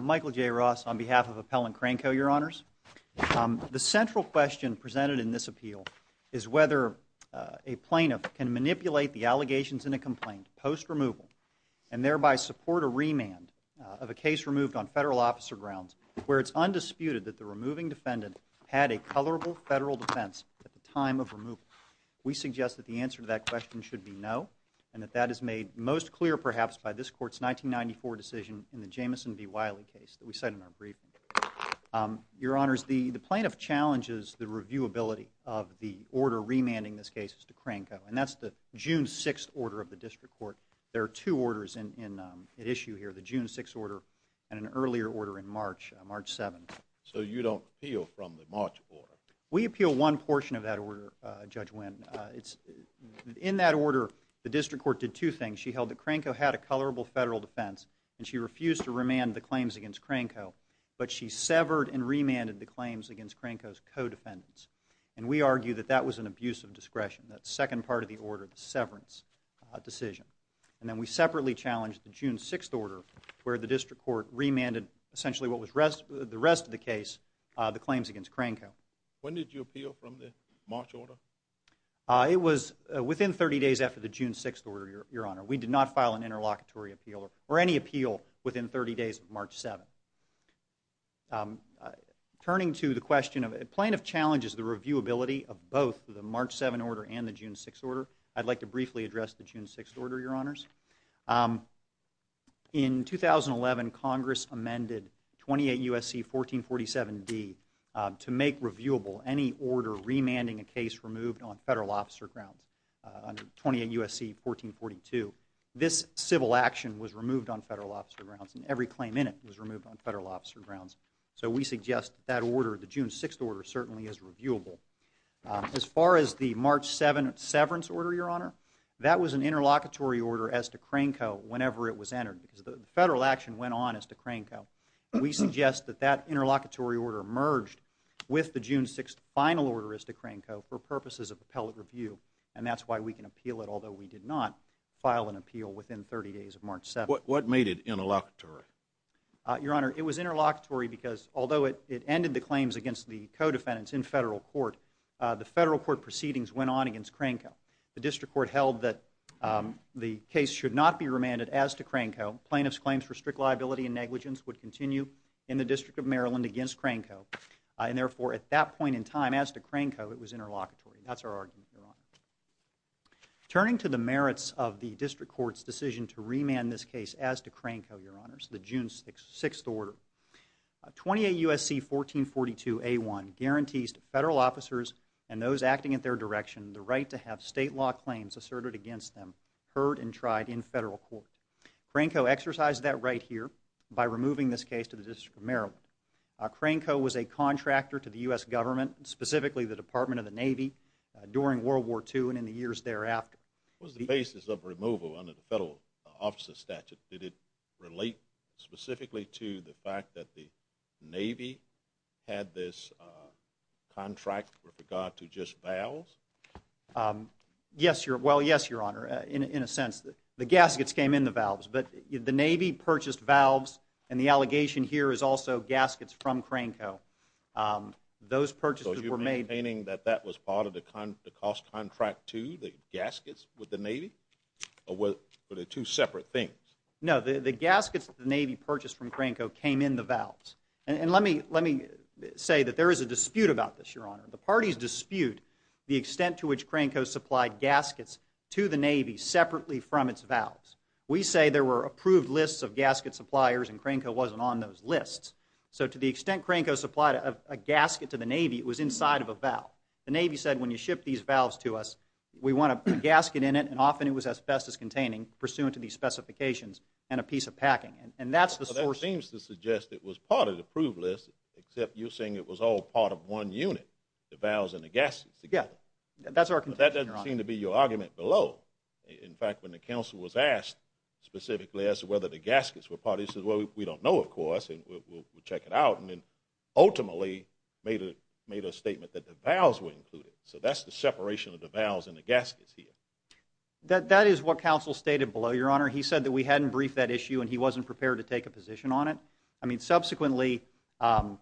Michael J. Ross on behalf of Appellant Crane Co, Your Honors. The central question presented in this appeal is whether a plaintiff can manipulate the allegations in a complaint post-removal and thereby support a remand of a case removed on federal officer grounds where it's undisputed that the removing defendant had a colorable federal defense at the time of removal. We suggest that the answer to that question should be no and that that is made most clear perhaps by this Court's 1994 decision in the Jamison v. Wiley case that we said in our briefing. Your Honors, the plaintiff challenges the reviewability of the order remanding this case to Crane Co and that's the June 6th order of the District Court. There are two orders at issue here, the June 6th order and an earlier order in March, March 7th. So you don't appeal from the March order? We appeal one portion of that order, Judge Wynn. In that order, the District Court did two things. She held that Crane Co had a colorable federal defense and she refused to remand the claims against Crane Co, but she severed and remanded the claims against Crane Co's co-defendants. And we argue that that was an abuse of discretion, that second part of the order, the severance decision. And then we separately challenged the June 6th order where the District Court remanded essentially what was the rest of the case, the claims against Crane Co. When did you appeal from the March order? It was within 30 days after the June 6th order, Your Honor. We did not file an interlocutory appeal or any appeal within 30 days of March 7th. Turning to the question of plaintiff challenges the reviewability of both the March 7th order and the June 6th order, I'd like to briefly address the June 6th order, Your Honors. In 2011, Congress amended 28 U.S.C. 1447D to make reviewable any order remanding a case removed on federal officer grounds under 28 U.S.C. 1442. This civil action was removed on federal officer grounds and every claim in it was removed on federal officer grounds. So we suggest that order, the June 6th order, certainly is reviewable. As far as the March 7th severance order, Your Honor, that was an interlocutory order as to Crane Co. whenever it was entered because the federal action went on as to Crane Co. We suggest that that interlocutory order merged with the June 6th final order as to Crane Co. for purposes of appellate review and that's why we can appeal it although we did not file an appeal within 30 days of March 7th. What made it interlocutory? Your Honor, it was interlocutory because although it ended the claims against the co-defendants in federal court, the federal court proceedings went on against Crane Co. The district court held that the case should not be remanded as to Crane Co. Plaintiffs' claims for strict liability and negligence would continue in the District of Maryland against Crane Co. and therefore, at that point in time, as to Crane Co., it was interlocutory. That's our argument, Your Honor. Turning to the merits of the district court's decision to remand this case as to Crane Co., Your Honor, the June 6th order, 28 U.S.C. 1442A1 guarantees to federal officers and those acting in their direction the right to have state law claims asserted against them heard and tried in federal court. Crane Co. exercised that right here by removing this case to the District of Maryland. Crane Co. was a contractor to the U.S. government, specifically the Department of the Navy during World War II and in the years thereafter. Was the basis of removal under the federal officer statute? Did it relate specifically to the fact that the Navy had this contract with regard to just valves? Well, yes, Your Honor, in a sense. The gaskets came in the valves, but the Navy purchased valves and the allegation here is also gaskets from Crane Co. Those purchases were made. So you're maintaining that that was part of the cost contract too, the gaskets with the No, the gaskets that the Navy purchased from Crane Co. came in the valves. And let me say that there is a dispute about this, Your Honor. The parties dispute the extent to which Crane Co. supplied gaskets to the Navy separately from its valves. We say there were approved lists of gasket suppliers and Crane Co. wasn't on those lists. So to the extent Crane Co. supplied a gasket to the Navy, it was inside of a valve. The Navy said when you ship these valves to us, we want a gasket in it and often it was best as containing pursuant to these specifications and a piece of packing. And that's the source. So that seems to suggest it was part of the approved list, except you're saying it was all part of one unit, the valves and the gaskets together. Yeah, that's our contention, Your Honor. But that doesn't seem to be your argument below. In fact, when the counsel was asked specifically as to whether the gaskets were part of this, he said, well, we don't know, of course, and we'll check it out. And then ultimately made a statement that the valves were included. So that's the separation of the valves and the gaskets here. That is what counsel stated below, Your Honor. He said that we hadn't briefed that issue and he wasn't prepared to take a position on it. I mean, subsequently, and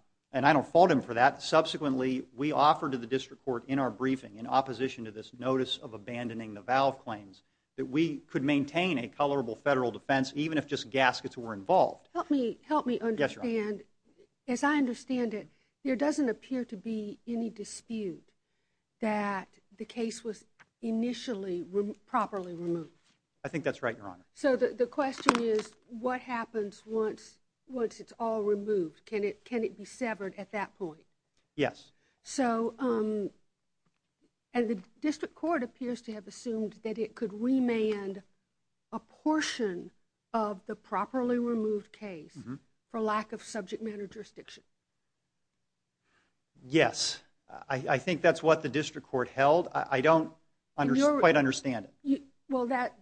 I don't fault him for that, subsequently, we offered to the district court in our briefing in opposition to this notice of abandoning the valve claims that we could maintain a colorable federal defense, even if just gaskets were involved. Help me understand, as I understand it, there doesn't appear to be any dispute that the gaskets were properly removed. I think that's right, Your Honor. So the question is, what happens once it's all removed? Can it be severed at that point? Yes. So, and the district court appears to have assumed that it could remand a portion of the properly removed case for lack of subject matter jurisdiction. Yes. I think that's what the district court held. I don't quite understand it. Well, that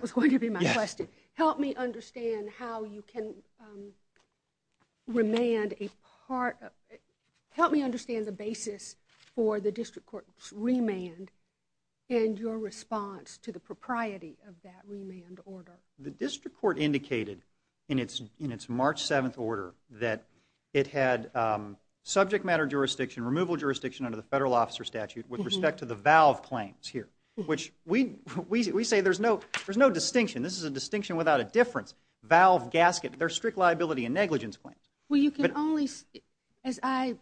was going to be my question. Help me understand how you can remand a part, help me understand the basis for the district court's remand and your response to the propriety of that remand order. The district court indicated in its March 7th order that it had subject matter jurisdiction, removal jurisdiction under the federal officer statute with respect to the valve claims here, which we say there's no distinction. This is a distinction without a difference. Valve gasket, they're strict liability and negligence claims. Well, you can only, as I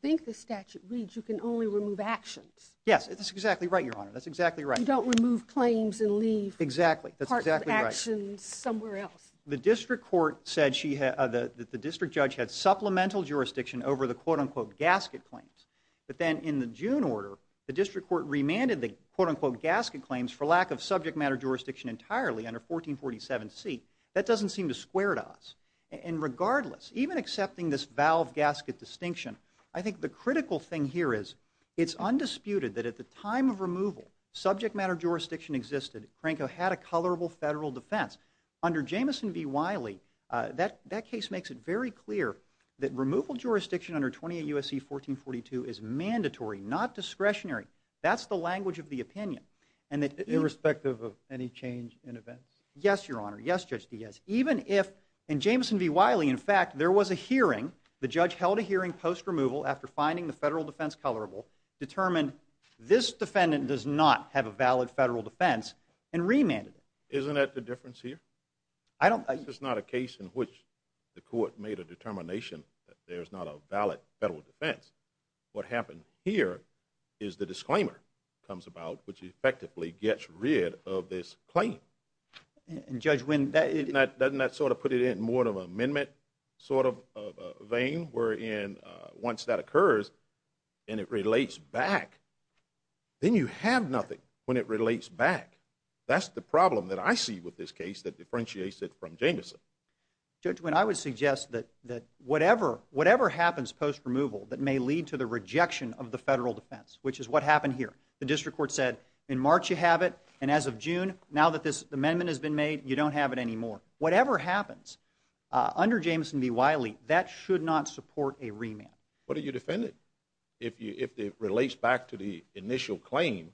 think the statute reads, you can only remove actions. Yes, that's exactly right, Your Honor. That's exactly right. You don't remove claims and leave actions somewhere else. The district court said that the district judge had supplemental jurisdiction over the quote-unquote gasket claims, but then in the June order, the district court remanded the quote-unquote gasket claims for lack of subject matter jurisdiction entirely under 1447C. That doesn't seem to square to us. And regardless, even accepting this valve gasket distinction, I think the critical thing here is it's undisputed that at the time of removal, subject matter jurisdiction existed. Cranco had a colorable federal defense. Under Jamison v. Wiley, that case makes it very clear that removal jurisdiction under 28 U.S.C. 1442 is mandatory, not discretionary. That's the language of the opinion. Irrespective of any change in events? Yes, Your Honor. Yes, Judge Diaz. Even if, in Jamison v. Wiley, in fact, there was a hearing, the judge held a hearing post-removal after finding the federal defense colorable, determined this defendant does not have a valid federal defense, and remanded it. Isn't that the difference here? I don't… This is not a case in which the court made a determination that there's not a valid federal defense. What happened here is the disclaimer comes about, which effectively gets rid of this claim. And, Judge, when that… Doesn't that sort of put it in more of an amendment sort of vein, wherein once that occurs and it relates back, then you have nothing when it relates back. That's the problem that I see with this case that differentiates it from Jamison. Judge, when I would suggest that whatever happens post-removal that may lead to the rejection of the federal defense, which is what happened here, the district court said, in March you have it, and as of June, now that this amendment has been made, you don't have it anymore. Whatever happens, under Jamison v. Wiley, that should not support a remand. What are you defending? If it relates back to the initial claim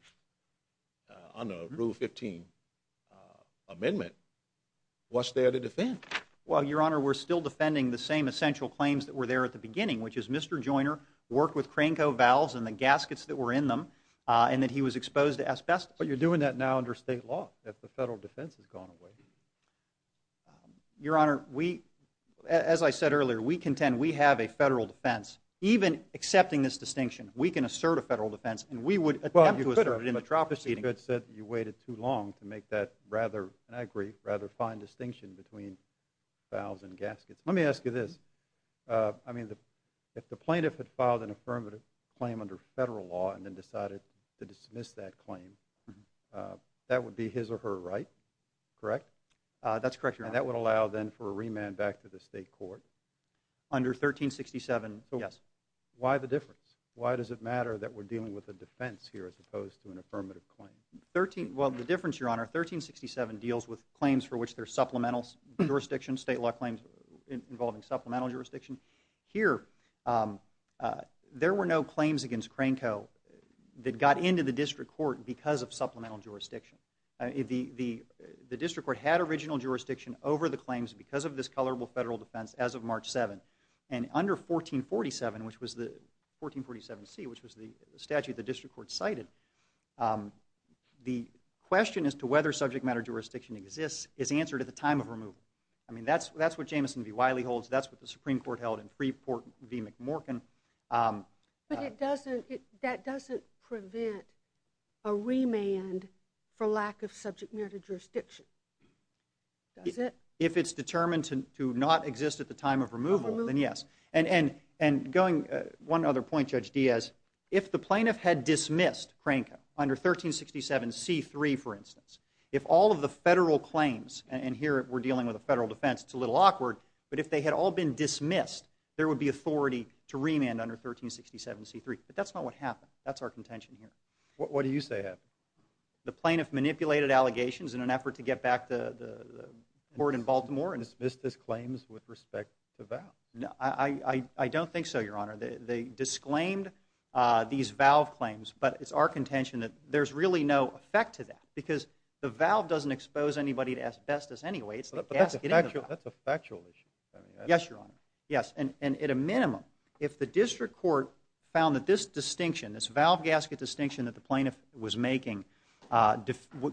under Rule 15 amendment, what's there to defend? Well, Your Honor, we're still defending the same essential claims that were there at the beginning, which is Mr. Joyner worked with Cranko valves and the gaskets that were in them, and that he was exposed to asbestos. But you're doing that now under state law, that the federal defense has gone away. Your Honor, we, as I said earlier, we contend we have a federal defense. Even accepting this distinction, we can assert a federal defense, and we would attempt to assert it in the trial proceeding. Well, you could have. You could have said that you waited too long to make that rather, and I agree, rather fine distinction between valves and gaskets. Let me ask you this, I mean, if the plaintiff had filed an affirmative claim under federal law and then decided to dismiss that claim, that would be his or her right, correct? That's correct, Your Honor. And that would allow then for a remand back to the state court? Under 1367, yes. Why the difference? Why does it matter that we're dealing with a defense here as opposed to an affirmative claim? Well, the difference, Your Honor, 1367 deals with claims for which there's supplemental jurisdiction, state law claims involving supplemental jurisdiction. Here, there were no claims against Cranco that got into the district court because of supplemental jurisdiction. The district court had original jurisdiction over the claims because of this colorable federal defense as of March 7. And under 1447, which was the, 1447C, which was the statute the district court cited, the question as to whether subject matter jurisdiction exists is answered at the time of removal. I mean, that's what Jameson v. Wiley holds. That's what the Supreme Court held in Freeport v. McMorkin. But that doesn't prevent a remand for lack of subject matter jurisdiction, does it? If it's determined to not exist at the time of removal, then yes. And going, one other point, Judge Diaz. If the plaintiff had dismissed Cranco under 1367C3, for instance, if all of the federal claims, and here we're dealing with a federal defense, it's a little awkward, but if they had all been dismissed, there would be authority to remand under 1367C3. But that's not what happened. That's our contention here. What do you say happened? The plaintiff manipulated allegations in an effort to get back the board in Baltimore and – And dismissed his claims with respect to Valve? I don't think so, Your Honor. They disclaimed these Valve claims, but it's our contention that there's really no effect to that because the Valve doesn't expose anybody to asbestos anyway. It's like gasketing the valve. That's a factual issue. Yes, Your Honor. Yes. And at a minimum, if the district court found that this distinction, this Valve gasket distinction that the plaintiff was making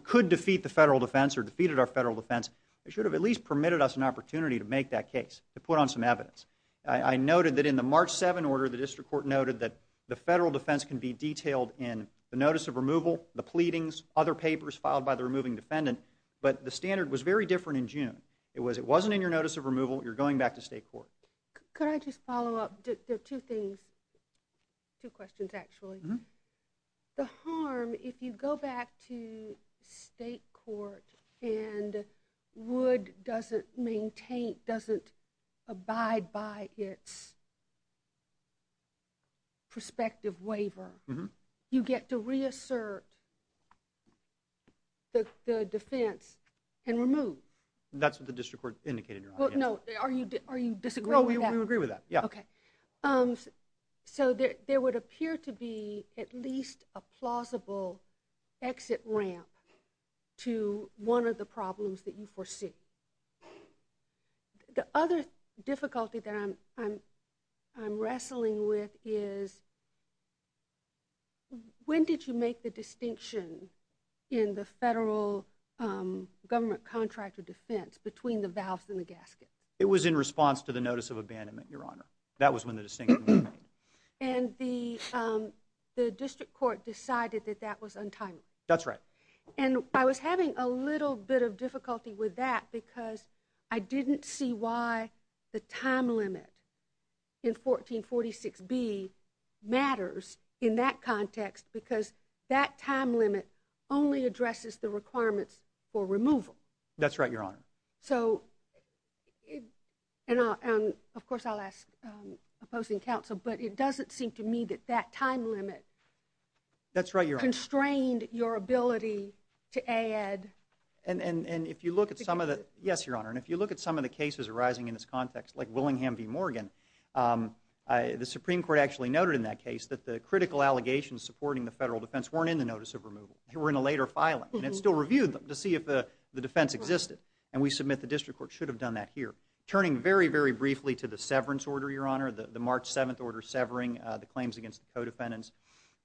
could defeat the federal defense or defeated our federal defense, it should have at least permitted us an opportunity to make that case, to put on some evidence. I noted that in the March 7 order, the district court noted that the federal defense can be detailed in the notice of removal, the pleadings, other papers filed by the removing defendant, but the standard was very different in June. It was, it wasn't in your notice of removal. You're going back to state court. Could I just follow up? There are two things, two questions actually. The harm, if you go back to state court and Wood doesn't maintain, doesn't abide by its prospective waiver, you get to reassert the defense and remove. That's what the district court indicated, Your Honor. Well, no. Are you disagreeing with that? No, we would agree with that. Yeah. Okay. So there would appear to be at least a plausible exit ramp to one of the problems that you foresee. The other difficulty that I'm wrestling with is when did you make the distinction in the federal government contract of defense between the valves and the gasket? It was in response to the notice of abandonment, Your Honor. That was when the distinction was made. And the district court decided that that was untimely. That's right. And I was having a little bit of difficulty with that because I didn't see why the time limit only addresses the requirements for removal. That's right, Your Honor. So and of course, I'll ask opposing counsel, but it doesn't seem to me that that time limit constrained your ability to add. And if you look at some of the, yes, Your Honor, and if you look at some of the cases arising in this context, like Willingham v. Morgan, the Supreme Court actually noted in that case that the critical allegations supporting the federal defense weren't in the notice of removal. They were in a later filing. And it still reviewed them to see if the defense existed. And we submit the district court should have done that here. Turning very, very briefly to the severance order, Your Honor, the March 7th order severing the claims against the co-defendants,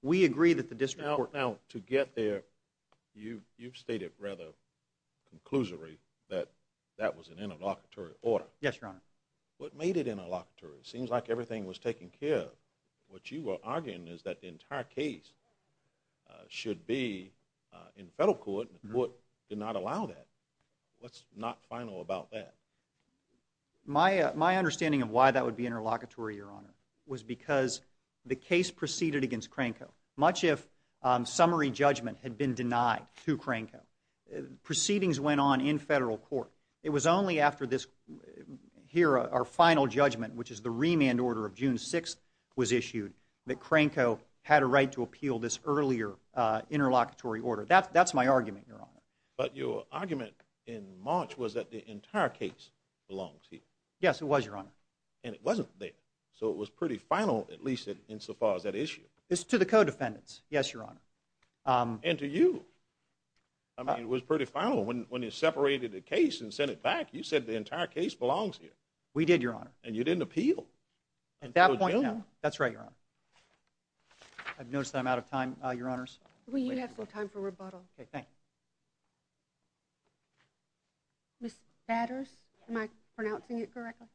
we agree that the district court Now, to get there, you've stated rather conclusively that that was an interlocutory order. Yes, Your Honor. What made it interlocutory? It seems like everything was taken care of. What you are arguing is that the entire case should be in federal court, and the court did not allow that. What's not final about that? My understanding of why that would be interlocutory, Your Honor, was because the case proceeded against Cranco. Much of summary judgment had been denied to Cranco. Proceedings went on in federal court. It was only after this, here, our final judgment, which is the remand order of June 6th, was issued, that Cranco had a right to appeal this earlier interlocutory order. That's my argument, Your Honor. But your argument in March was that the entire case belongs here. Yes, it was, Your Honor. And it wasn't there. So it was pretty final, at least insofar as that issue. It's to the co-defendants, yes, Your Honor. And to you. I mean, it was pretty final when you separated the case and sent it back. You said the entire case belongs here. We did, Your Honor. And you didn't appeal. At that point, no. That's right, Your Honor. I've noticed that I'm out of time, Your Honors. We do have some time for rebuttal. Okay, thank you. Ms. Batters, am I pronouncing it correctly?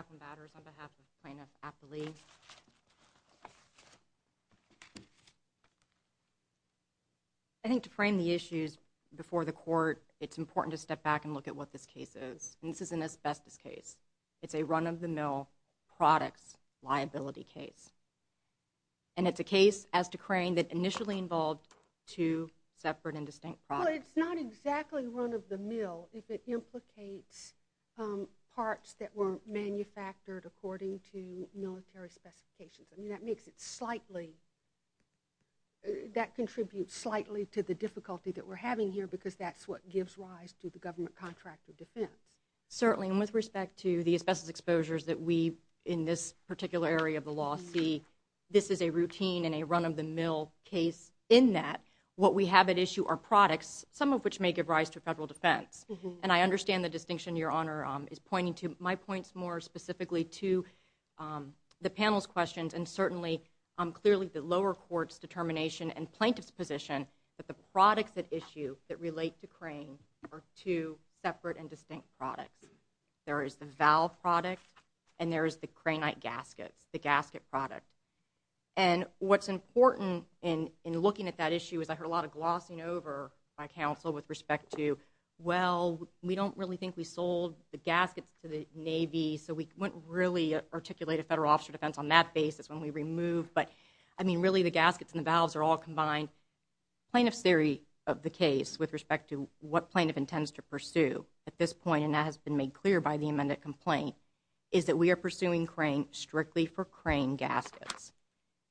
Yes, Your Honor. I think to frame the issues before the court, it's important to step back and look at what this case is. And this is an asbestos case. It's a run-of-the-mill products liability case. And it's a case, as to Crane, that initially involved two separate and distinct products. Well, it's not exactly run-of-the-mill if it implicates parts that weren't manufactured according to military specifications. I mean, that makes it slightly – that contributes slightly to the difficulty that we're having here because that's what gives rise to the government contract of defense. Certainly. And with respect to the asbestos exposures that we, in this particular area of the law, see, this is a routine and a run-of-the-mill case in that what we have at issue are products, some of which may give rise to federal defense. And I understand the distinction Your Honor is pointing to. My point's more specifically to the panel's questions and certainly, clearly, the lower court's determination and plaintiff's position that the products at issue that relate to There is the valve product and there is the Cranite gaskets, the gasket product. And what's important in looking at that issue is I heard a lot of glossing over by counsel with respect to, well, we don't really think we sold the gaskets to the Navy, so we wouldn't really articulate a federal officer defense on that basis when we removed. But I mean, really, the gaskets and the valves are all combined. Plaintiff's theory of the case with respect to what plaintiff intends to pursue at this point, and that has been made clear by the amended complaint, is that we are pursuing crane strictly for crane gaskets.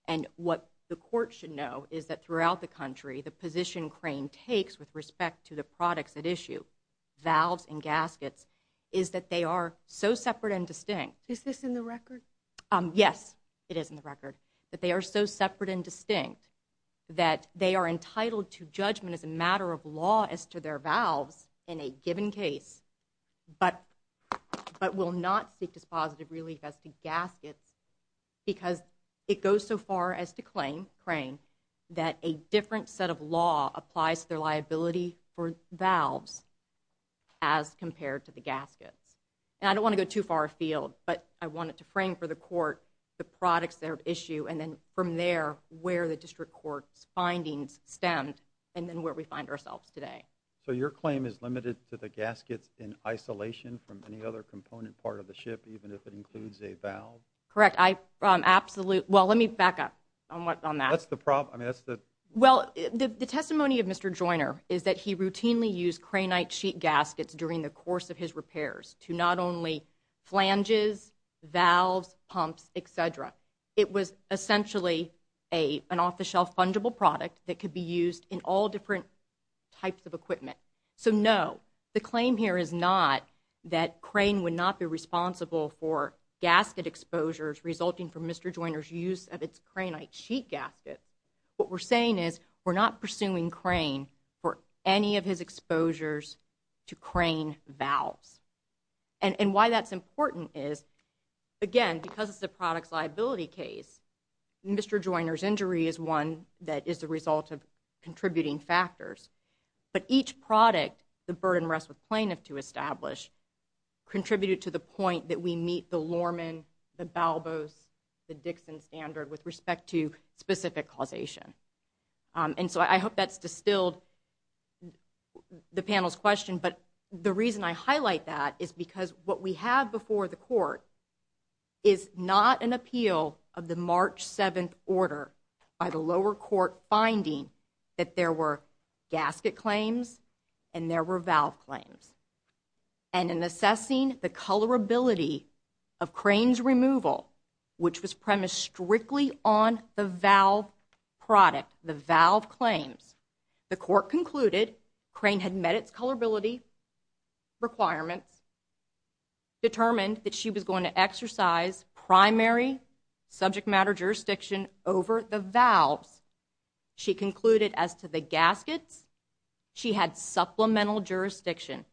And what the court should know is that throughout the country, the position crane takes with respect to the products at issue, valves and gaskets, is that they are so separate and distinct. Is this in the record? Yes, it is in the record. That they are so separate and distinct that they are entitled to judgment as a matter of law as to their valves in a given case, but will not seek dispositive relief as to gaskets, because it goes so far as to claim, crane, that a different set of law applies to their liability for valves as compared to the gaskets. And I don't want to go too far afield, but I wanted to frame for the court the products at issue, and then from there, where the district court's findings stemmed, and then where we find ourselves today. So your claim is limited to the gaskets in isolation from any other component part of the ship, even if it includes a valve? Correct. I absolutely, well, let me back up on that. That's the problem. I mean, that's the. Well, the testimony of Mr. Joyner is that he routinely used craneite sheet gaskets during the course of his repairs to not only flanges, valves, pumps, et cetera. It was essentially an off-the-shelf fungible product that could be used in all different types of equipment. So no, the claim here is not that crane would not be responsible for gasket exposures resulting from Mr. Joyner's use of its craneite sheet gasket. What we're saying is we're not pursuing crane for any of his exposures to crane valves. And why that's important is, again, because it's a product's liability case, Mr. Joyner's injury is one that is the result of contributing factors. But each product the burden rests with plaintiff to establish contributed to the point that we meet the Lorman, the Balbos, the Dixon standard with respect to specific causation. And so I hope that's distilled the panel's question. But the reason I highlight that is because what we have before the court is not an appeal of the March 7th order by the lower court finding that there were gasket claims and there were valve claims. And in assessing the colorability of crane's removal, which was premised strictly on the product, the valve claims, the court concluded crane had met its colorability requirements, determined that she was going to exercise primary subject matter jurisdiction over the valves. She concluded as to the gaskets, she had supplemental jurisdiction.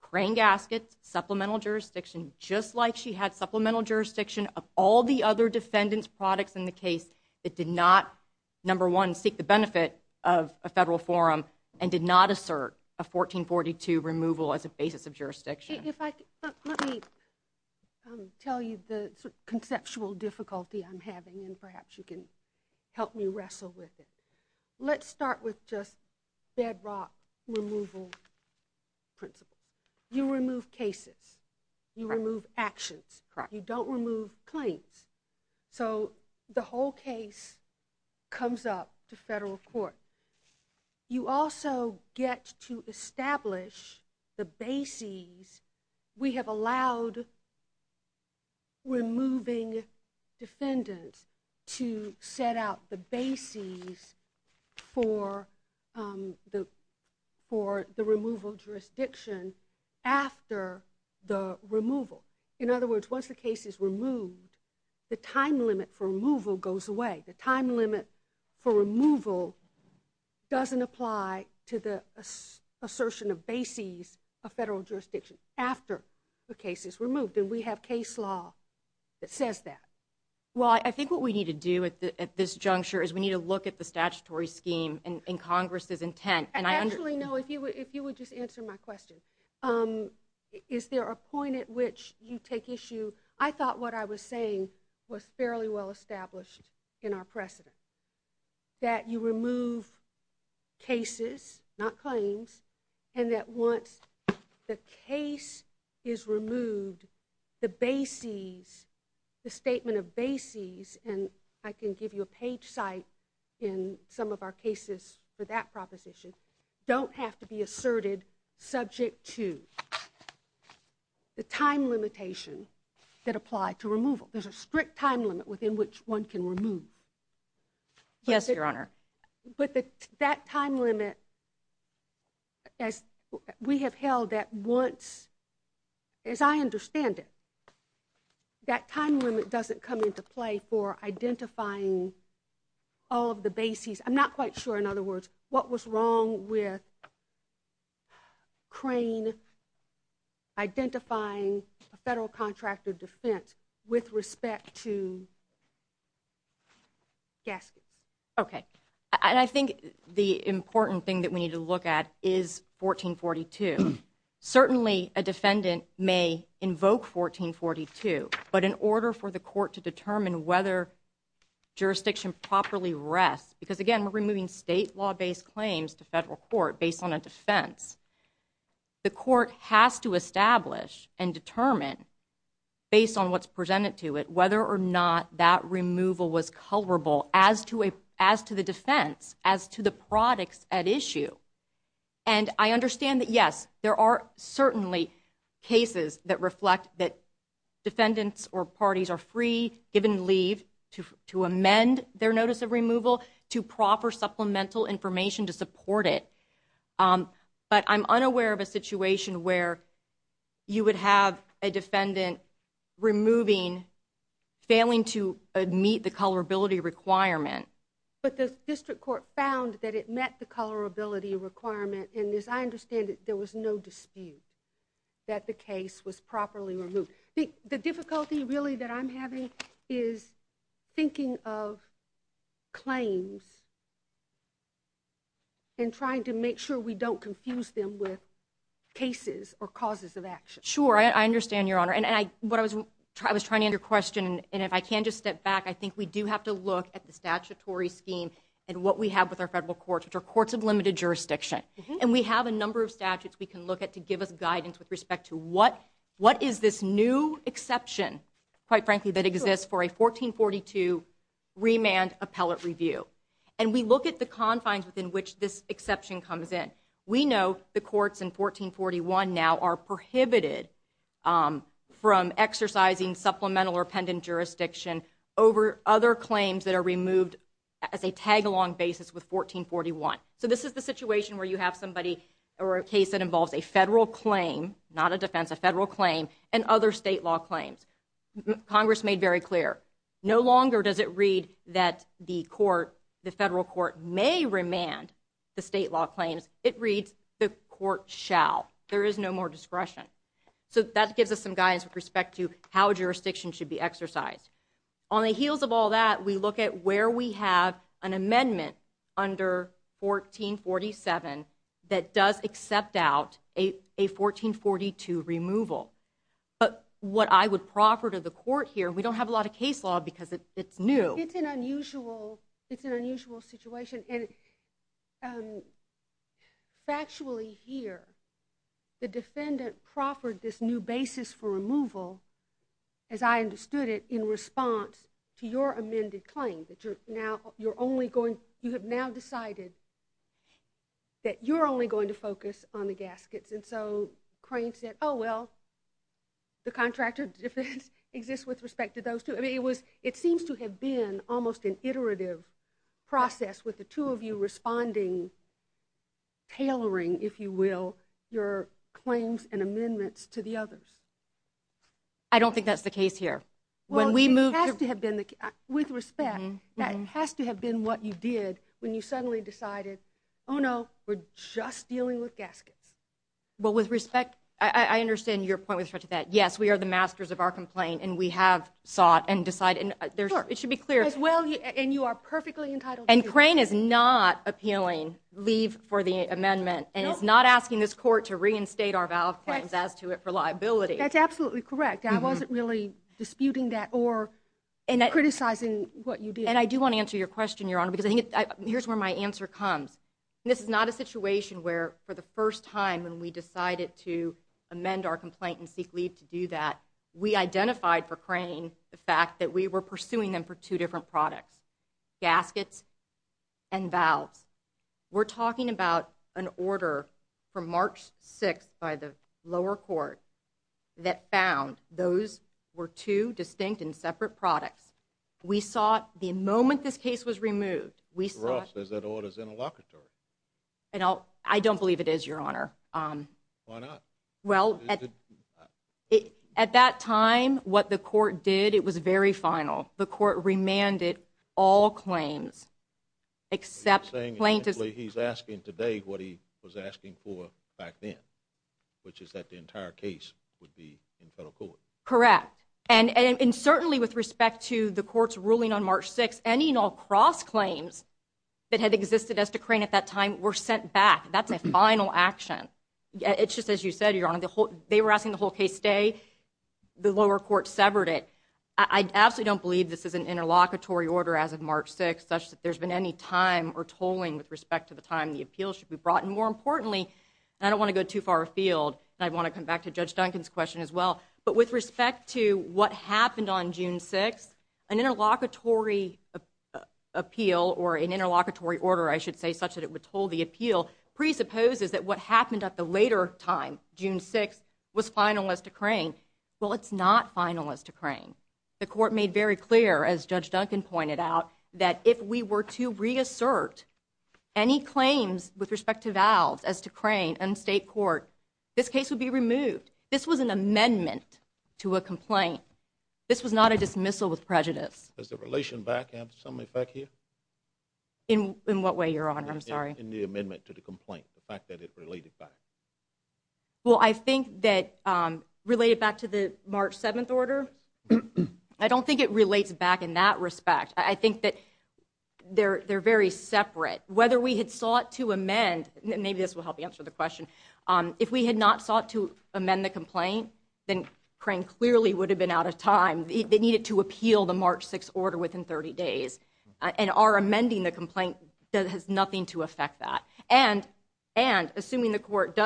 Crane gaskets, supplemental jurisdiction, just like she had supplemental jurisdiction of all the other defendant's products in the case that did not, number one, seek the benefit of a federal forum and did not assert a 1442 removal as a basis of jurisdiction. If I could, let me tell you the conceptual difficulty I'm having and perhaps you can help me wrestle with it. Let's start with just bedrock removal principle. You remove cases. You remove actions. You don't remove claims. So the whole case comes up to federal court. You also get to establish the bases. We have allowed removing defendants to set out the bases for the removal jurisdiction after the removal. In other words, once the case is removed, the time limit for removal goes away. The time limit for removal doesn't apply to the assertion of bases of federal jurisdiction after the case is removed and we have case law that says that. Well, I think what we need to do at this juncture is we need to look at the statutory scheme and Congress's intent. Actually, no, if you would just answer my question. Is there a point at which you take issue? I thought what I was saying was fairly well established in our precedent that you remove cases, not claims, and that once the case is removed, the bases, the statement of bases and I can give you a page site in some of our cases for that proposition, don't have to be asserted subject to the time limitation that apply to removal. There's a strict time limit within which one can remove. Yes, Your Honor. But that time limit, as we have held that once, as I understand it, that time limit doesn't come into play for identifying all of the bases. I'm not quite sure, in other words, what was wrong with Crane identifying a federal contract of defense with respect to gaskets. Okay. And I think the important thing that we need to look at is 1442. Certainly, a defendant may invoke 1442, but in order for the court to determine whether jurisdiction properly rests, because again, we're removing state law-based claims to federal court based on a defense, the court has to establish and determine based on what's presented to it whether or not that removal was culpable as to the defense, as to the products at issue. And I understand that, yes, there are certainly cases that reflect that defendants or parties are free, given leave to amend their notice of removal to proffer supplemental information to support it. But I'm unaware of a situation where you would have a defendant removing, failing to meet the colorability requirement. But the district court found that it met the colorability requirement, and as I understand it, there was no dispute that the case was properly removed. The difficulty, really, that I'm having is thinking of claims and trying to make sure we don't confuse them with cases or causes of action. Sure. I understand, Your Honor. And what I was trying to answer your question, and if I can just step back, I think we do have to look at the statutory scheme and what we have with our federal courts, which are courts of limited jurisdiction. And we have a number of statutes we can look at to give us guidance with respect to what is this new exception, quite frankly, that exists for a 1442 remand appellate review. And we look at the confines within which this exception comes in. We know the courts in 1441 now are prohibited from exercising supplemental or pendent jurisdiction over other claims that are removed as a tag-along basis with 1441. So this is the situation where you have somebody or a case that involves a federal claim, not a defense, a federal claim, and other state law claims. Congress made very clear, no longer does it read that the court, the federal court, may remand the state law claims. It reads the court shall. There is no more discretion. So that gives us some guidance with respect to how jurisdiction should be exercised. On the heels of all that, we look at where we have an amendment under 1447 that does accept out a 1442 removal. But what I would proffer to the court here, we don't have a lot of case law because it's new. It's an unusual situation. And factually here, the defendant proffered this new basis for removal, as I understood it, in response to your amended claim. You have now decided that you're only going to focus on the gaskets. And so Crane said, oh well, the contractor defense exists with respect to those two. It seems to have been almost an iterative process with the two of you responding, tailoring, if you will, your claims and amendments to the others. I don't think that's the case here. Well it has to have been with respect. That has to have been what you did when you suddenly decided, oh no, we're just dealing with gaskets. Well with respect, I understand your point with respect to that, yes, we are the masters of our complaint and we have sought and decided, it should be clear. And you are perfectly entitled to do that. And Crane is not appealing leave for the amendment and is not asking this court to reinstate our valve claims as to it for liability. That's absolutely correct. I wasn't really disputing that or criticizing what you did. And I do want to answer your question, Your Honor, because here's where my answer comes. This is not a situation where, for the first time, when we decided to amend our complaint and seek leave to do that, we identified for Crane the fact that we were pursuing them for two different products, gaskets and valves. We're talking about an order from March 6th by the lower court that found those were two distinct and separate products. We sought, the moment this case was removed, we sought. Ross, is that order interlocutory? I don't believe it is, Your Honor. Why not? Well, at that time, what the court did, it was very final. The court remanded all claims except plaintiffs. You're saying, essentially, he's asking today what he was asking for back then, which is that the entire case would be in federal court. Correct. And certainly with respect to the court's ruling on March 6th, any and all cross-claims that had existed as to Crane at that time were sent back. That's a final action. It's just, as you said, Your Honor, they were asking the whole case stay. The lower court severed it. I absolutely don't believe this is an interlocutory order as of March 6th, such that there's been any time or tolling with respect to the time the appeal should be brought. And more importantly, and I don't want to go too far afield, and I want to come back to Judge Duncan's question as well, but with respect to what happened on June 6th, an interlocutory appeal, or an interlocutory order, I should say, such that it would toll the appeal, presupposes that what happened at the later time, June 6th, was final as to Crane. Well, it's not final as to Crane. The court made very clear, as Judge Duncan pointed out, that if we were to reassert any claims with respect to Valves as to Crane in state court, this case would be removed. This was an amendment to a complaint. This was not a dismissal with prejudice. Does the relation back have some effect here? In what way, Your Honor? I'm sorry. In the amendment to the complaint, the fact that it related back. Well, I think that related back to the March 7th order, I don't think it relates back in that respect. I think that they're very separate. Whether we had sought to amend, and maybe this will help answer the question, if we had not sought to amend the complaint, then Crane clearly would have been out of time. They needed to appeal the March 6th order within 30 days. And our amending the complaint has nothing to affect that. And assuming the court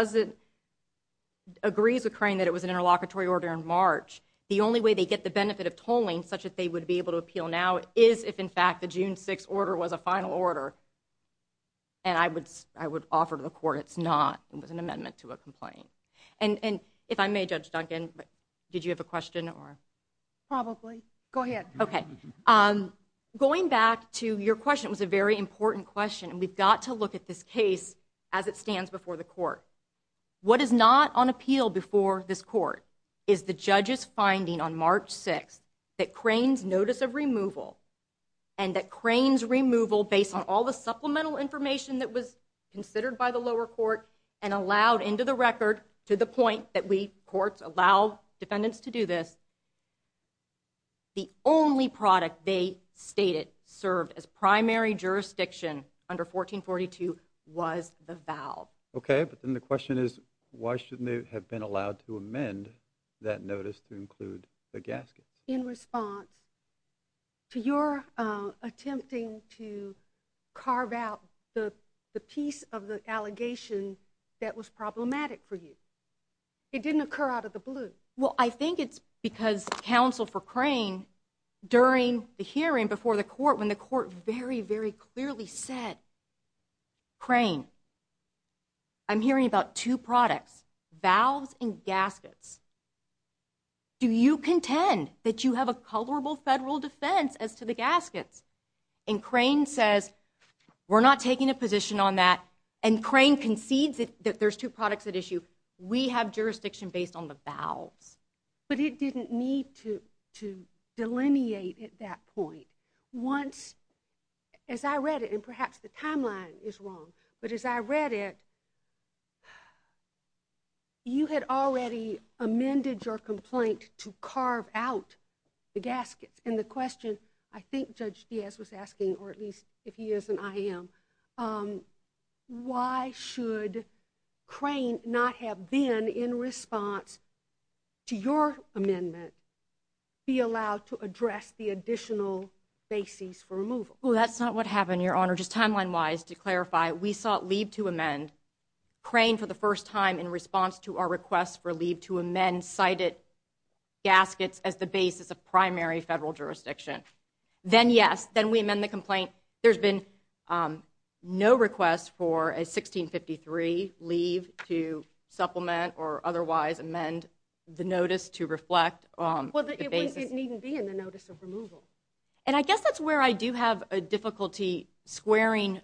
agrees with Crane that it was an interlocutory order in March, the only way they get the benefit of tolling such that they would be able to appeal now is if, in fact, the June 6th order was a final order. And I would offer to the court it's not. It was an amendment to a complaint. And if I may, Judge Duncan, did you have a question? Probably. Go ahead. Okay. Going back to your question, it was a very important question, and we've got to look at this case as it stands before the court. What is not on appeal before this court is the judge's finding on March 6th that Crane's notice of removal and that Crane's removal, based on all the supplemental information that was considered by the lower court and allowed into the record to the point that we, courts, allow defendants to do this, the only product they stated served as primary jurisdiction under 1442 was the vow. Okay. But then the question is why shouldn't they have been allowed to amend that notice to include the gaskets? In response to your attempting to carve out the piece of the allegation that was problematic for you. It didn't occur out of the blue. Well, I think it's because counsel for Crane, during the hearing before the court, when the court very, very clearly said, Crane, I'm hearing about two products, valves and gaskets. Do you contend that you have a colorable federal defense as to the gaskets? And Crane says, we're not taking a position on that, and Crane concedes that there's two We have jurisdiction based on the valves. But it didn't need to delineate at that point. Once, as I read it, and perhaps the timeline is wrong, but as I read it, you had already amended your complaint to carve out the gaskets. And the question, I think Judge Diaz was asking, or at least if he is and I am, why should Crane not have been, in response to your amendment, be allowed to address the additional basis for removal? Well, that's not what happened, Your Honor. Just timeline-wise, to clarify, we sought leave to amend Crane for the first time in response to our request for leave to amend cited gaskets as the basis of primary federal Then, yes, then we amend the complaint. There's been no request for a 1653 leave to supplement or otherwise amend the notice to reflect the basis. Well, it wouldn't even be in the notice of removal. And I guess that's where I do have a difficulty squaring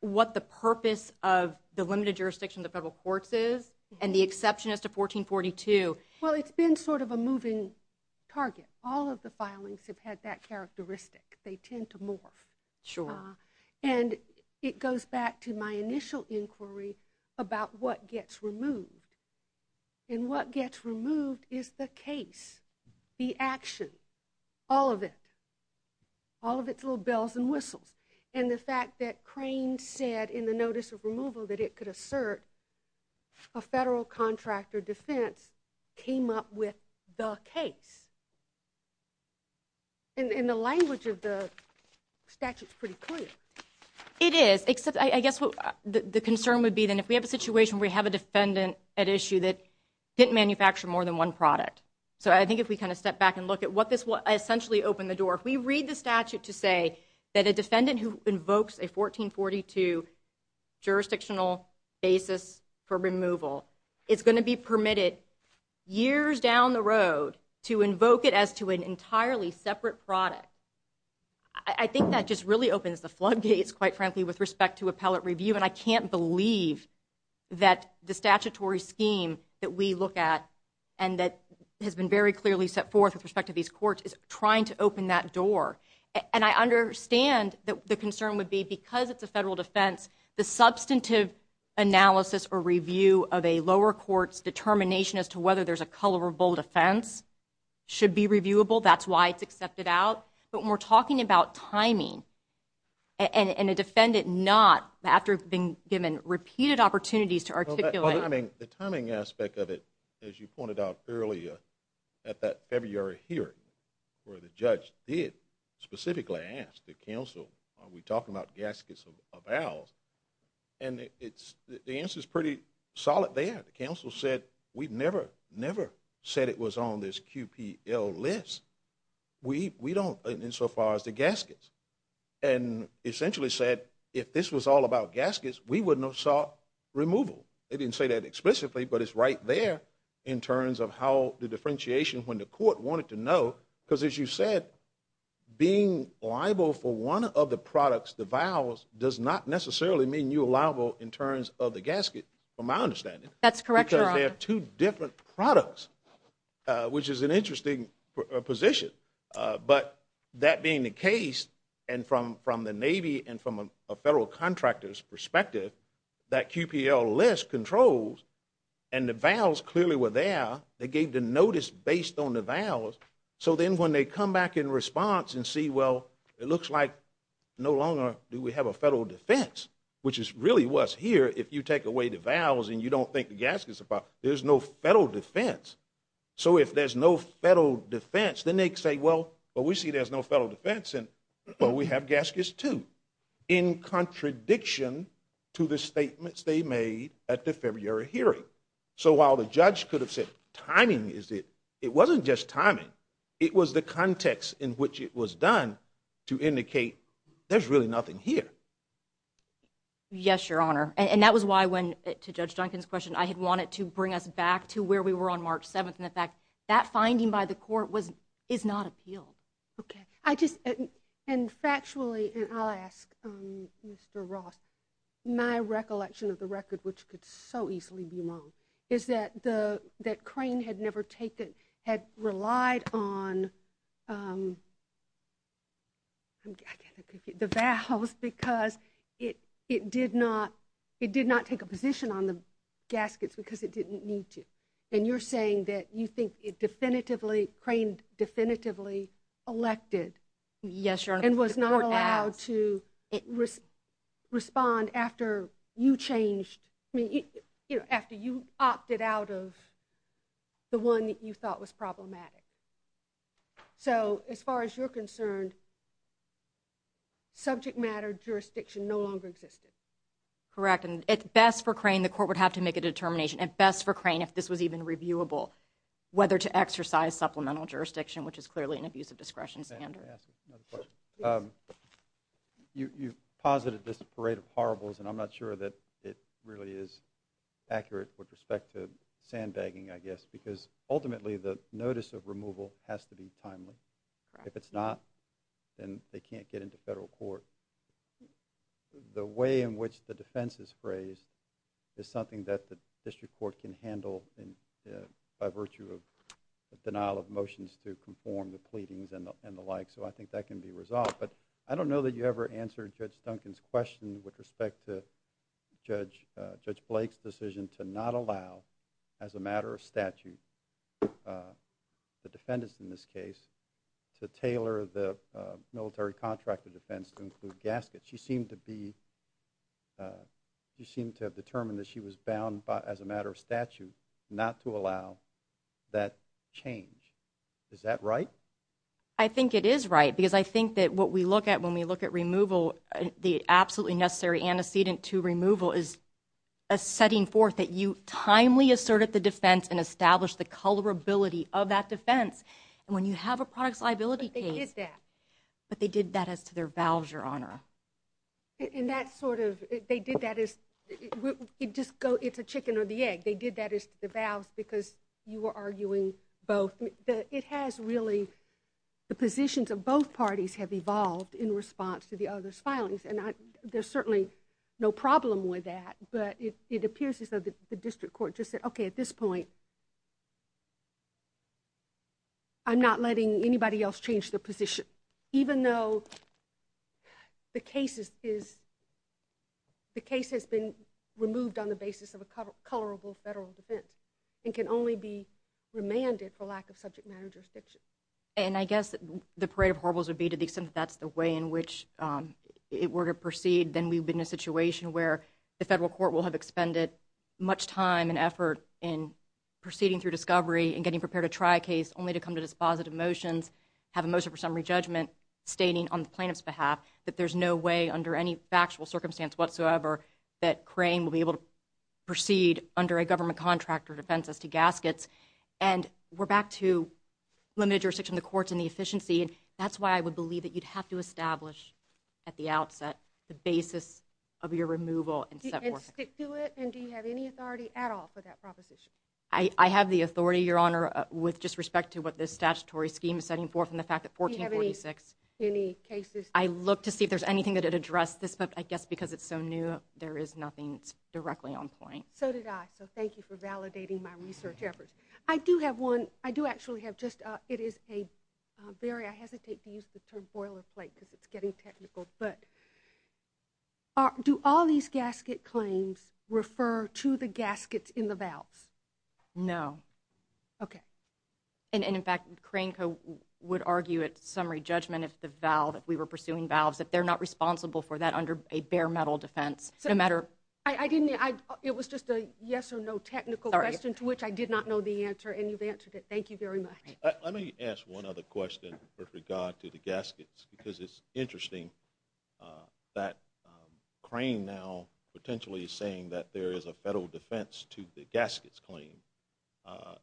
what the purpose of the limited jurisdiction of the federal courts is and the exception as to 1442. Well, it's been sort of a moving target. All of the filings have had that characteristic. They tend to morph. And it goes back to my initial inquiry about what gets removed. And what gets removed is the case, the action, all of it, all of its little bells and whistles. And the fact that Crane said in the notice of removal that it could assert a federal contractor defense came up with the case. And the language of the statute is pretty clear. It is, except I guess what the concern would be then if we have a situation where we have a defendant at issue that didn't manufacture more than one product. So I think if we kind of step back and look at what this will essentially open the door, if we read the statute to say that a defendant who invokes a 1442 jurisdictional basis for a federal defense should invoke it as to an entirely separate product, I think that just really opens the floodgates, quite frankly, with respect to appellate review. And I can't believe that the statutory scheme that we look at and that has been very clearly set forth with respect to these courts is trying to open that door. And I understand that the concern would be because it's a federal defense, the substantive analysis or review of a lower court's determination as to whether there's a colorable defense should be reviewable. That's why it's accepted out. But when we're talking about timing and a defendant not after being given repeated opportunities to articulate. Well, I mean, the timing aspect of it, as you pointed out earlier at that February hearing where the judge did specifically ask the counsel, are we talking about gaskets of vows? And it's the answer is pretty solid there. The counsel said, we've never, never said it was on this QPL list. We don't insofar as the gaskets and essentially said, if this was all about gaskets, we would not saw removal. They didn't say that explicitly, but it's right there in terms of how the differentiation when the court wanted to know, because as you said, being liable for one of the products, the vows does not necessarily mean you allowable in terms of the gasket, from my understanding. That's correct, Your Honor. Because they have two different products, which is an interesting position. But that being the case, and from the Navy and from a federal contractor's perspective, that QPL list controls and the vows clearly were there. They gave the notice based on the vows. So then when they come back in response and see, well, it looks like no longer do we have a federal defense, which is really what's here, if you take away the vows and you don't think the gasket's about, there's no federal defense. So if there's no federal defense, then they say, well, but we see there's no federal defense, and well, we have gaskets too, in contradiction to the statements they made at the February hearing. So while the judge could have said timing is it, it wasn't just timing. It was the context in which it was done to indicate there's really nothing here. Yes, Your Honor. And that was why when, to Judge Duncan's question, I had wanted to bring us back to where we were on March 7th, and the fact that finding by the court is not appealed. Okay. I just, and factually, and I'll ask Mr. Ross, my recollection of the record, which could so easily be wrong, is that the, that Crane had never taken, had relied on the vows because it did not, it did not take a position on the gaskets because it didn't need to. And you're saying that you think it definitively, Crane definitively elected. Yes, Your Honor. And was not allowed to respond after you changed, I mean, you know, after you opted out of the one that you thought was problematic. So as far as you're concerned, subject matter jurisdiction no longer existed. Correct. And at best for Crane, the court would have to make a determination, at best for Crane, if this was even reviewable, whether to exercise supplemental jurisdiction, which is clearly an abuse of discretion standard. Let me ask you another question. You posited this parade of horribles, and I'm not sure that it really is accurate with respect to sandbagging, I guess, because ultimately the notice of removal has to be timely. If it's not, then they can't get into federal court. The way in which the defense is phrased is something that the district court can handle by virtue of the denial of motions to conform the pleadings and the like, so I think that can be resolved. But I don't know that you ever answered Judge Duncan's question with respect to Judge Blake's decision to not allow, as a matter of statute, the defendants in this case to tailor the military contractor defense to include gaskets. She seemed to have determined that she was bound, as a matter of statute, not to allow that change. Is that right? I think it is right, because I think that what we look at when we look at removal, the absolutely necessary antecedent to removal is a setting forth that you timely asserted the defense and established the colorability of that defense, and when you have a product's liability case. But they did that. They did that as to their vows, Your Honor. And that sort of, they did that as, it's a chicken or the egg. They did that as to the vows, because you were arguing both. It has really, the positions of both parties have evolved in response to the other's filings, and there's certainly no problem with that, but it appears as though the district court just said, okay, at this point, I'm not letting anybody else change their position. Even though the case is, the case has been removed on the basis of a colorable federal defense, and can only be remanded for lack of subject matter jurisdiction. And I guess the parade of horribles would be to the extent that that's the way in which it were to proceed, then we'd be in a situation where the federal court will have expended much time and effort in proceeding through discovery and getting prepared to try a case only to come to dispositive motions, have a motion for summary judgment, stating on the plaintiff's behalf that there's no way under any factual circumstance whatsoever that Crane will be able to proceed under a government contract or defense as to gaskets. And we're back to limited jurisdiction of the courts and the efficiency, and that's why I would believe that you'd have to establish at the outset the basis of your removal and set forth. And stick to it? And do you have any authority at all for that proposition? I have the authority, Your Honor, with just respect to what this statutory scheme is setting forth and the fact that 1446. Do you have any cases? I look to see if there's anything that would address this, but I guess because it's so new, there is nothing directly on point. So did I. So thank you for validating my research efforts. I do have one. I do actually have just a, it is a, Barry, I hesitate to use the term boilerplate because it's getting technical, but do all these gasket claims refer to the gaskets in the vows? No. Okay. And in fact, Cranko would argue at summary judgment if the vow that we were pursuing vows that they're not responsible for that under a bare metal defense, no matter. I didn't, it was just a yes or no technical question to which I did not know the answer and you've answered it. Thank you very much. Let me ask one other question with regard to the gaskets because it's interesting that Crane now potentially saying that there is a federal defense to the gaskets claim.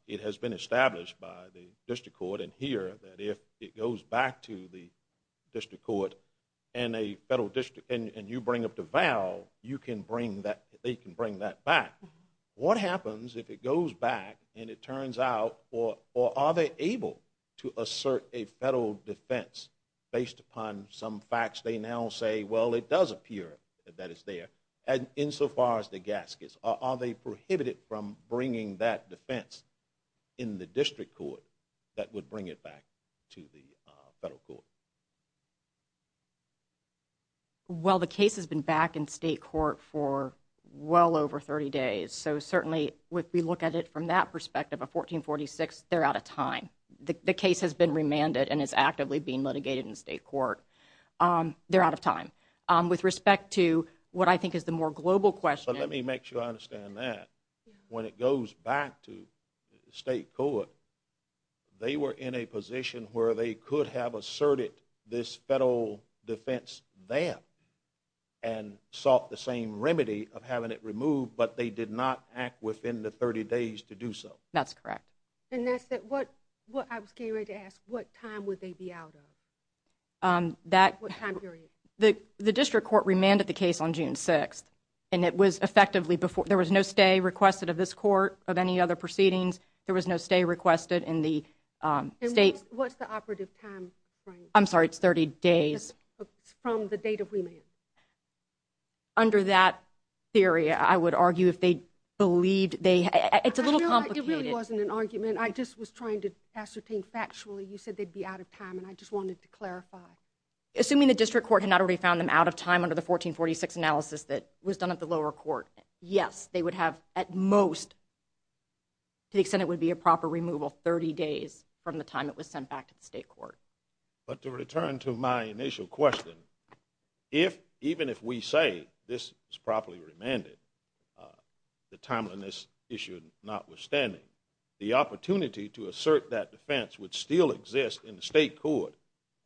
It has been established by the district court in here that if it goes back to the district court and a federal district, and you bring up the vow, you can bring that, they can bring that back. What happens if it goes back and it turns out, or are they able to assert a federal defense based upon some facts they now say, well, it does appear that it's there and in so far as the gaskets, are they prohibited from bringing that defense in the district court that would bring it back to the federal court? Well the case has been back in state court for well over 30 days. So certainly if we look at it from that perspective, a 1446, they're out of time. The case has been remanded and it's actively being litigated in state court. They're out of time. With respect to what I think is the more global question. Let me make sure I understand that. When it goes back to state court, they were in a position where they could have asserted this federal defense there and sought the same remedy of having it removed, but they did not act within the 30 days to do so. That's correct. And that's what I was getting ready to ask. What time would they be out of? The district court remanded the case on June 6th and it was effectively before, there was no stay requested of this court of any other proceedings. There was no stay requested in the state. What's the operative time frame? I'm sorry. It's 30 days. It's from the date of remand. Under that theory, I would argue if they believed they, it's a little complicated. It really wasn't an argument. I just was trying to ascertain factually you said they'd be out of time and I just wanted to clarify. Assuming the district court had not already found them out of time under the 1446 analysis that was done at the lower court, yes, they would have at most, to the extent it would be a proper removal, 30 days from the time it was sent back to the state court. But to return to my initial question, if, even if we say this is properly remanded, the timeliness issue notwithstanding, the opportunity to assert that defense would still exist in the state court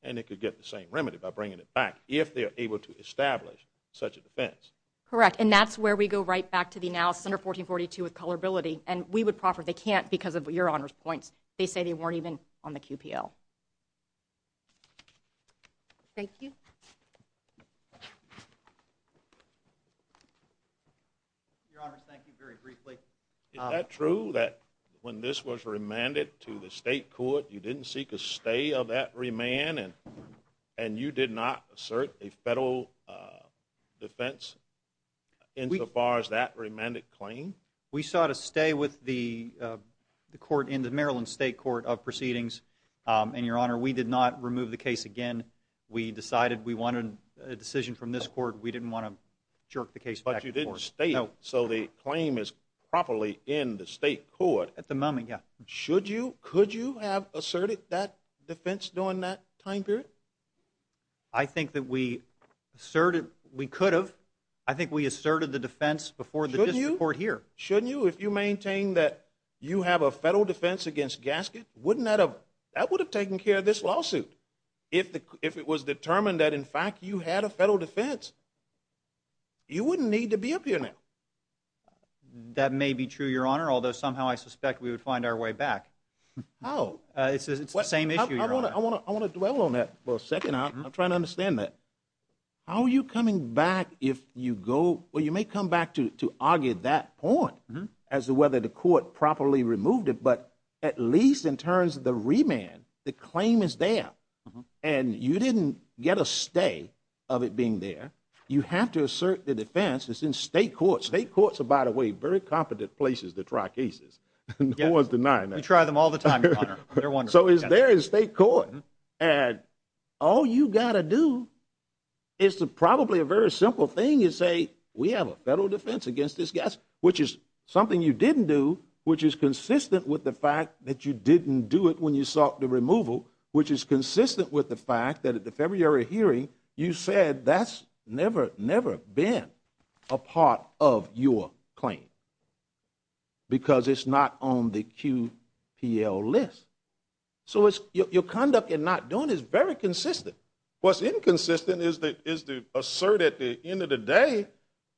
and it could get the same remedy by bringing it back if they are able to establish such a defense. Correct. And that's where we go right back to the analysis under 1442 with colorability and we would proffer they can't because of your Honor's points. They say they weren't even on the QPL. Thank you. Your Honor, thank you very briefly. Is that true that when this was remanded to the state court, you didn't seek a stay of that remand and you did not assert a federal defense insofar as that remanded claim? We sought a stay with the court in the Maryland State Court of Proceedings and, Your Honor, we did not remove the case again. We decided we wanted a decision from this court. We didn't want to jerk the case back to the court. But you didn't stay. No. So the claim is properly in the state court. At the moment, yeah. Should you, could you have asserted that defense during that time period? I think that we asserted, we could have. I think we asserted the defense before the district court here. Shouldn't you? If you maintain that you have a federal defense against Gasket, wouldn't that have, that would have taken care of this lawsuit. If it was determined that, in fact, you had a federal defense, you wouldn't need to be up here now. That may be true, Your Honor, although somehow I suspect we would find our way back. Oh. It's the same issue, Your Honor. I want to dwell on that for a second. I'm trying to understand that. How are you coming back if you go, well, you may come back to argue that point as to whether the court properly removed it, but at least in terms of the remand, the claim is there and you didn't get a stay of it being there. You have to assert the defense. It's in state courts. State courts are, by the way, very competent places to try cases. No one's denying that. We try them all the time, Your Honor. They're wonderful. So it's there in state court and all you got to do is to probably a very simple thing is say we have a federal defense against Gasket, which is something you didn't do, which is consistent with the fact that you didn't do it when you sought the removal, which is consistent with the fact that at the February hearing, you said that's never, never been a part of your claim because it's not on the QPL list. So your conduct in not doing it is very consistent. What's inconsistent is the assert at the end of the day,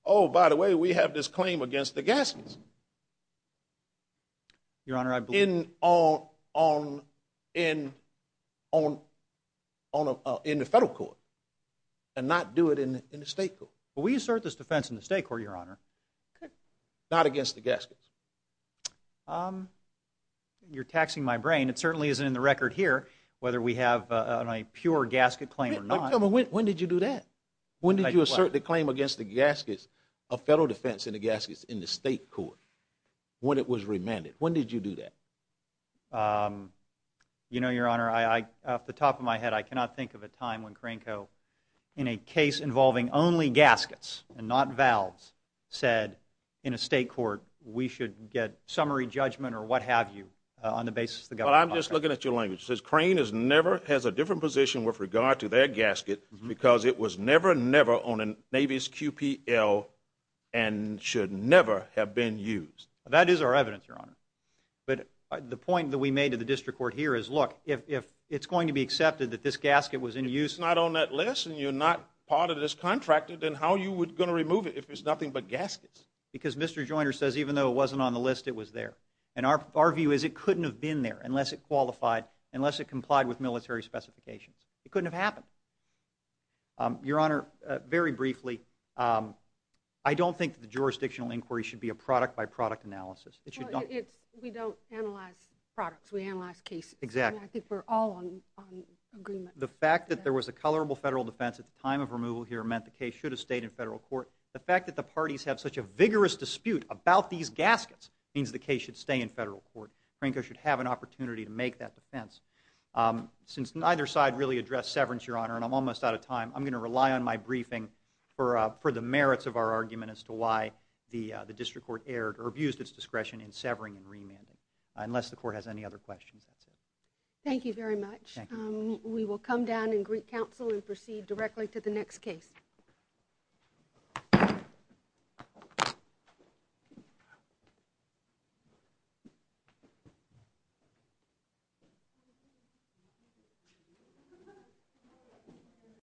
oh, by the way, we have this claim against the Gaskets. Your Honor, I believe... In, on, on, in, on, on, in the federal court and not do it in the state court. We assert this defense in the state court, Your Honor. Not against the Gaskets. You're taxing my brain. It certainly isn't in the record here whether we have a pure Gasket claim or not. When did you do that? When did you assert the claim against the Gaskets, a federal defense in the Gaskets in the state court when it was remanded? When did you do that? You know, Your Honor, off the top of my head, I cannot think of a time when Cranco, in a case involving only Gaskets and not Valves, said in a state court, we should get summary judgment or what have you on the basis of the government. Well, I'm just looking at your language. It says Crane has never, has a different position with regard to their Gasket because it was never, never on a Navy's QPL and should never have been used. That is our evidence, Your Honor. But the point that we made to the district court here is, look, if it's going to be accepted that this Gasket was in use. It's not on that list and you're not part of this contract, then how are you going to remove it if it's nothing but Gaskets? Because Mr. Joyner says even though it wasn't on the list, it was there. And our view is it couldn't have been there unless it qualified, unless it complied with military specifications. It couldn't have happened. Your Honor, very briefly, I don't think that the jurisdictional inquiry should be a product by product analysis. It should not. Well, it's, we don't analyze products. We analyze cases. Exactly. And I think we're all on agreement. The fact that there was a colorable federal defense at the time of removal here meant the case should have stayed in federal court. The fact that the parties have such a vigorous dispute about these Gaskets means the case should stay in federal court. Franco should have an opportunity to make that defense. Since neither side really addressed severance, Your Honor, and I'm almost out of time, I'm going to rely on my briefing for the merits of our argument as to why the district court erred or abused its discretion in severing and remanding, unless the court has any other questions. That's it. Thank you very much. Thank you. We will come down and greet counsel and proceed directly to the next case. Thank you.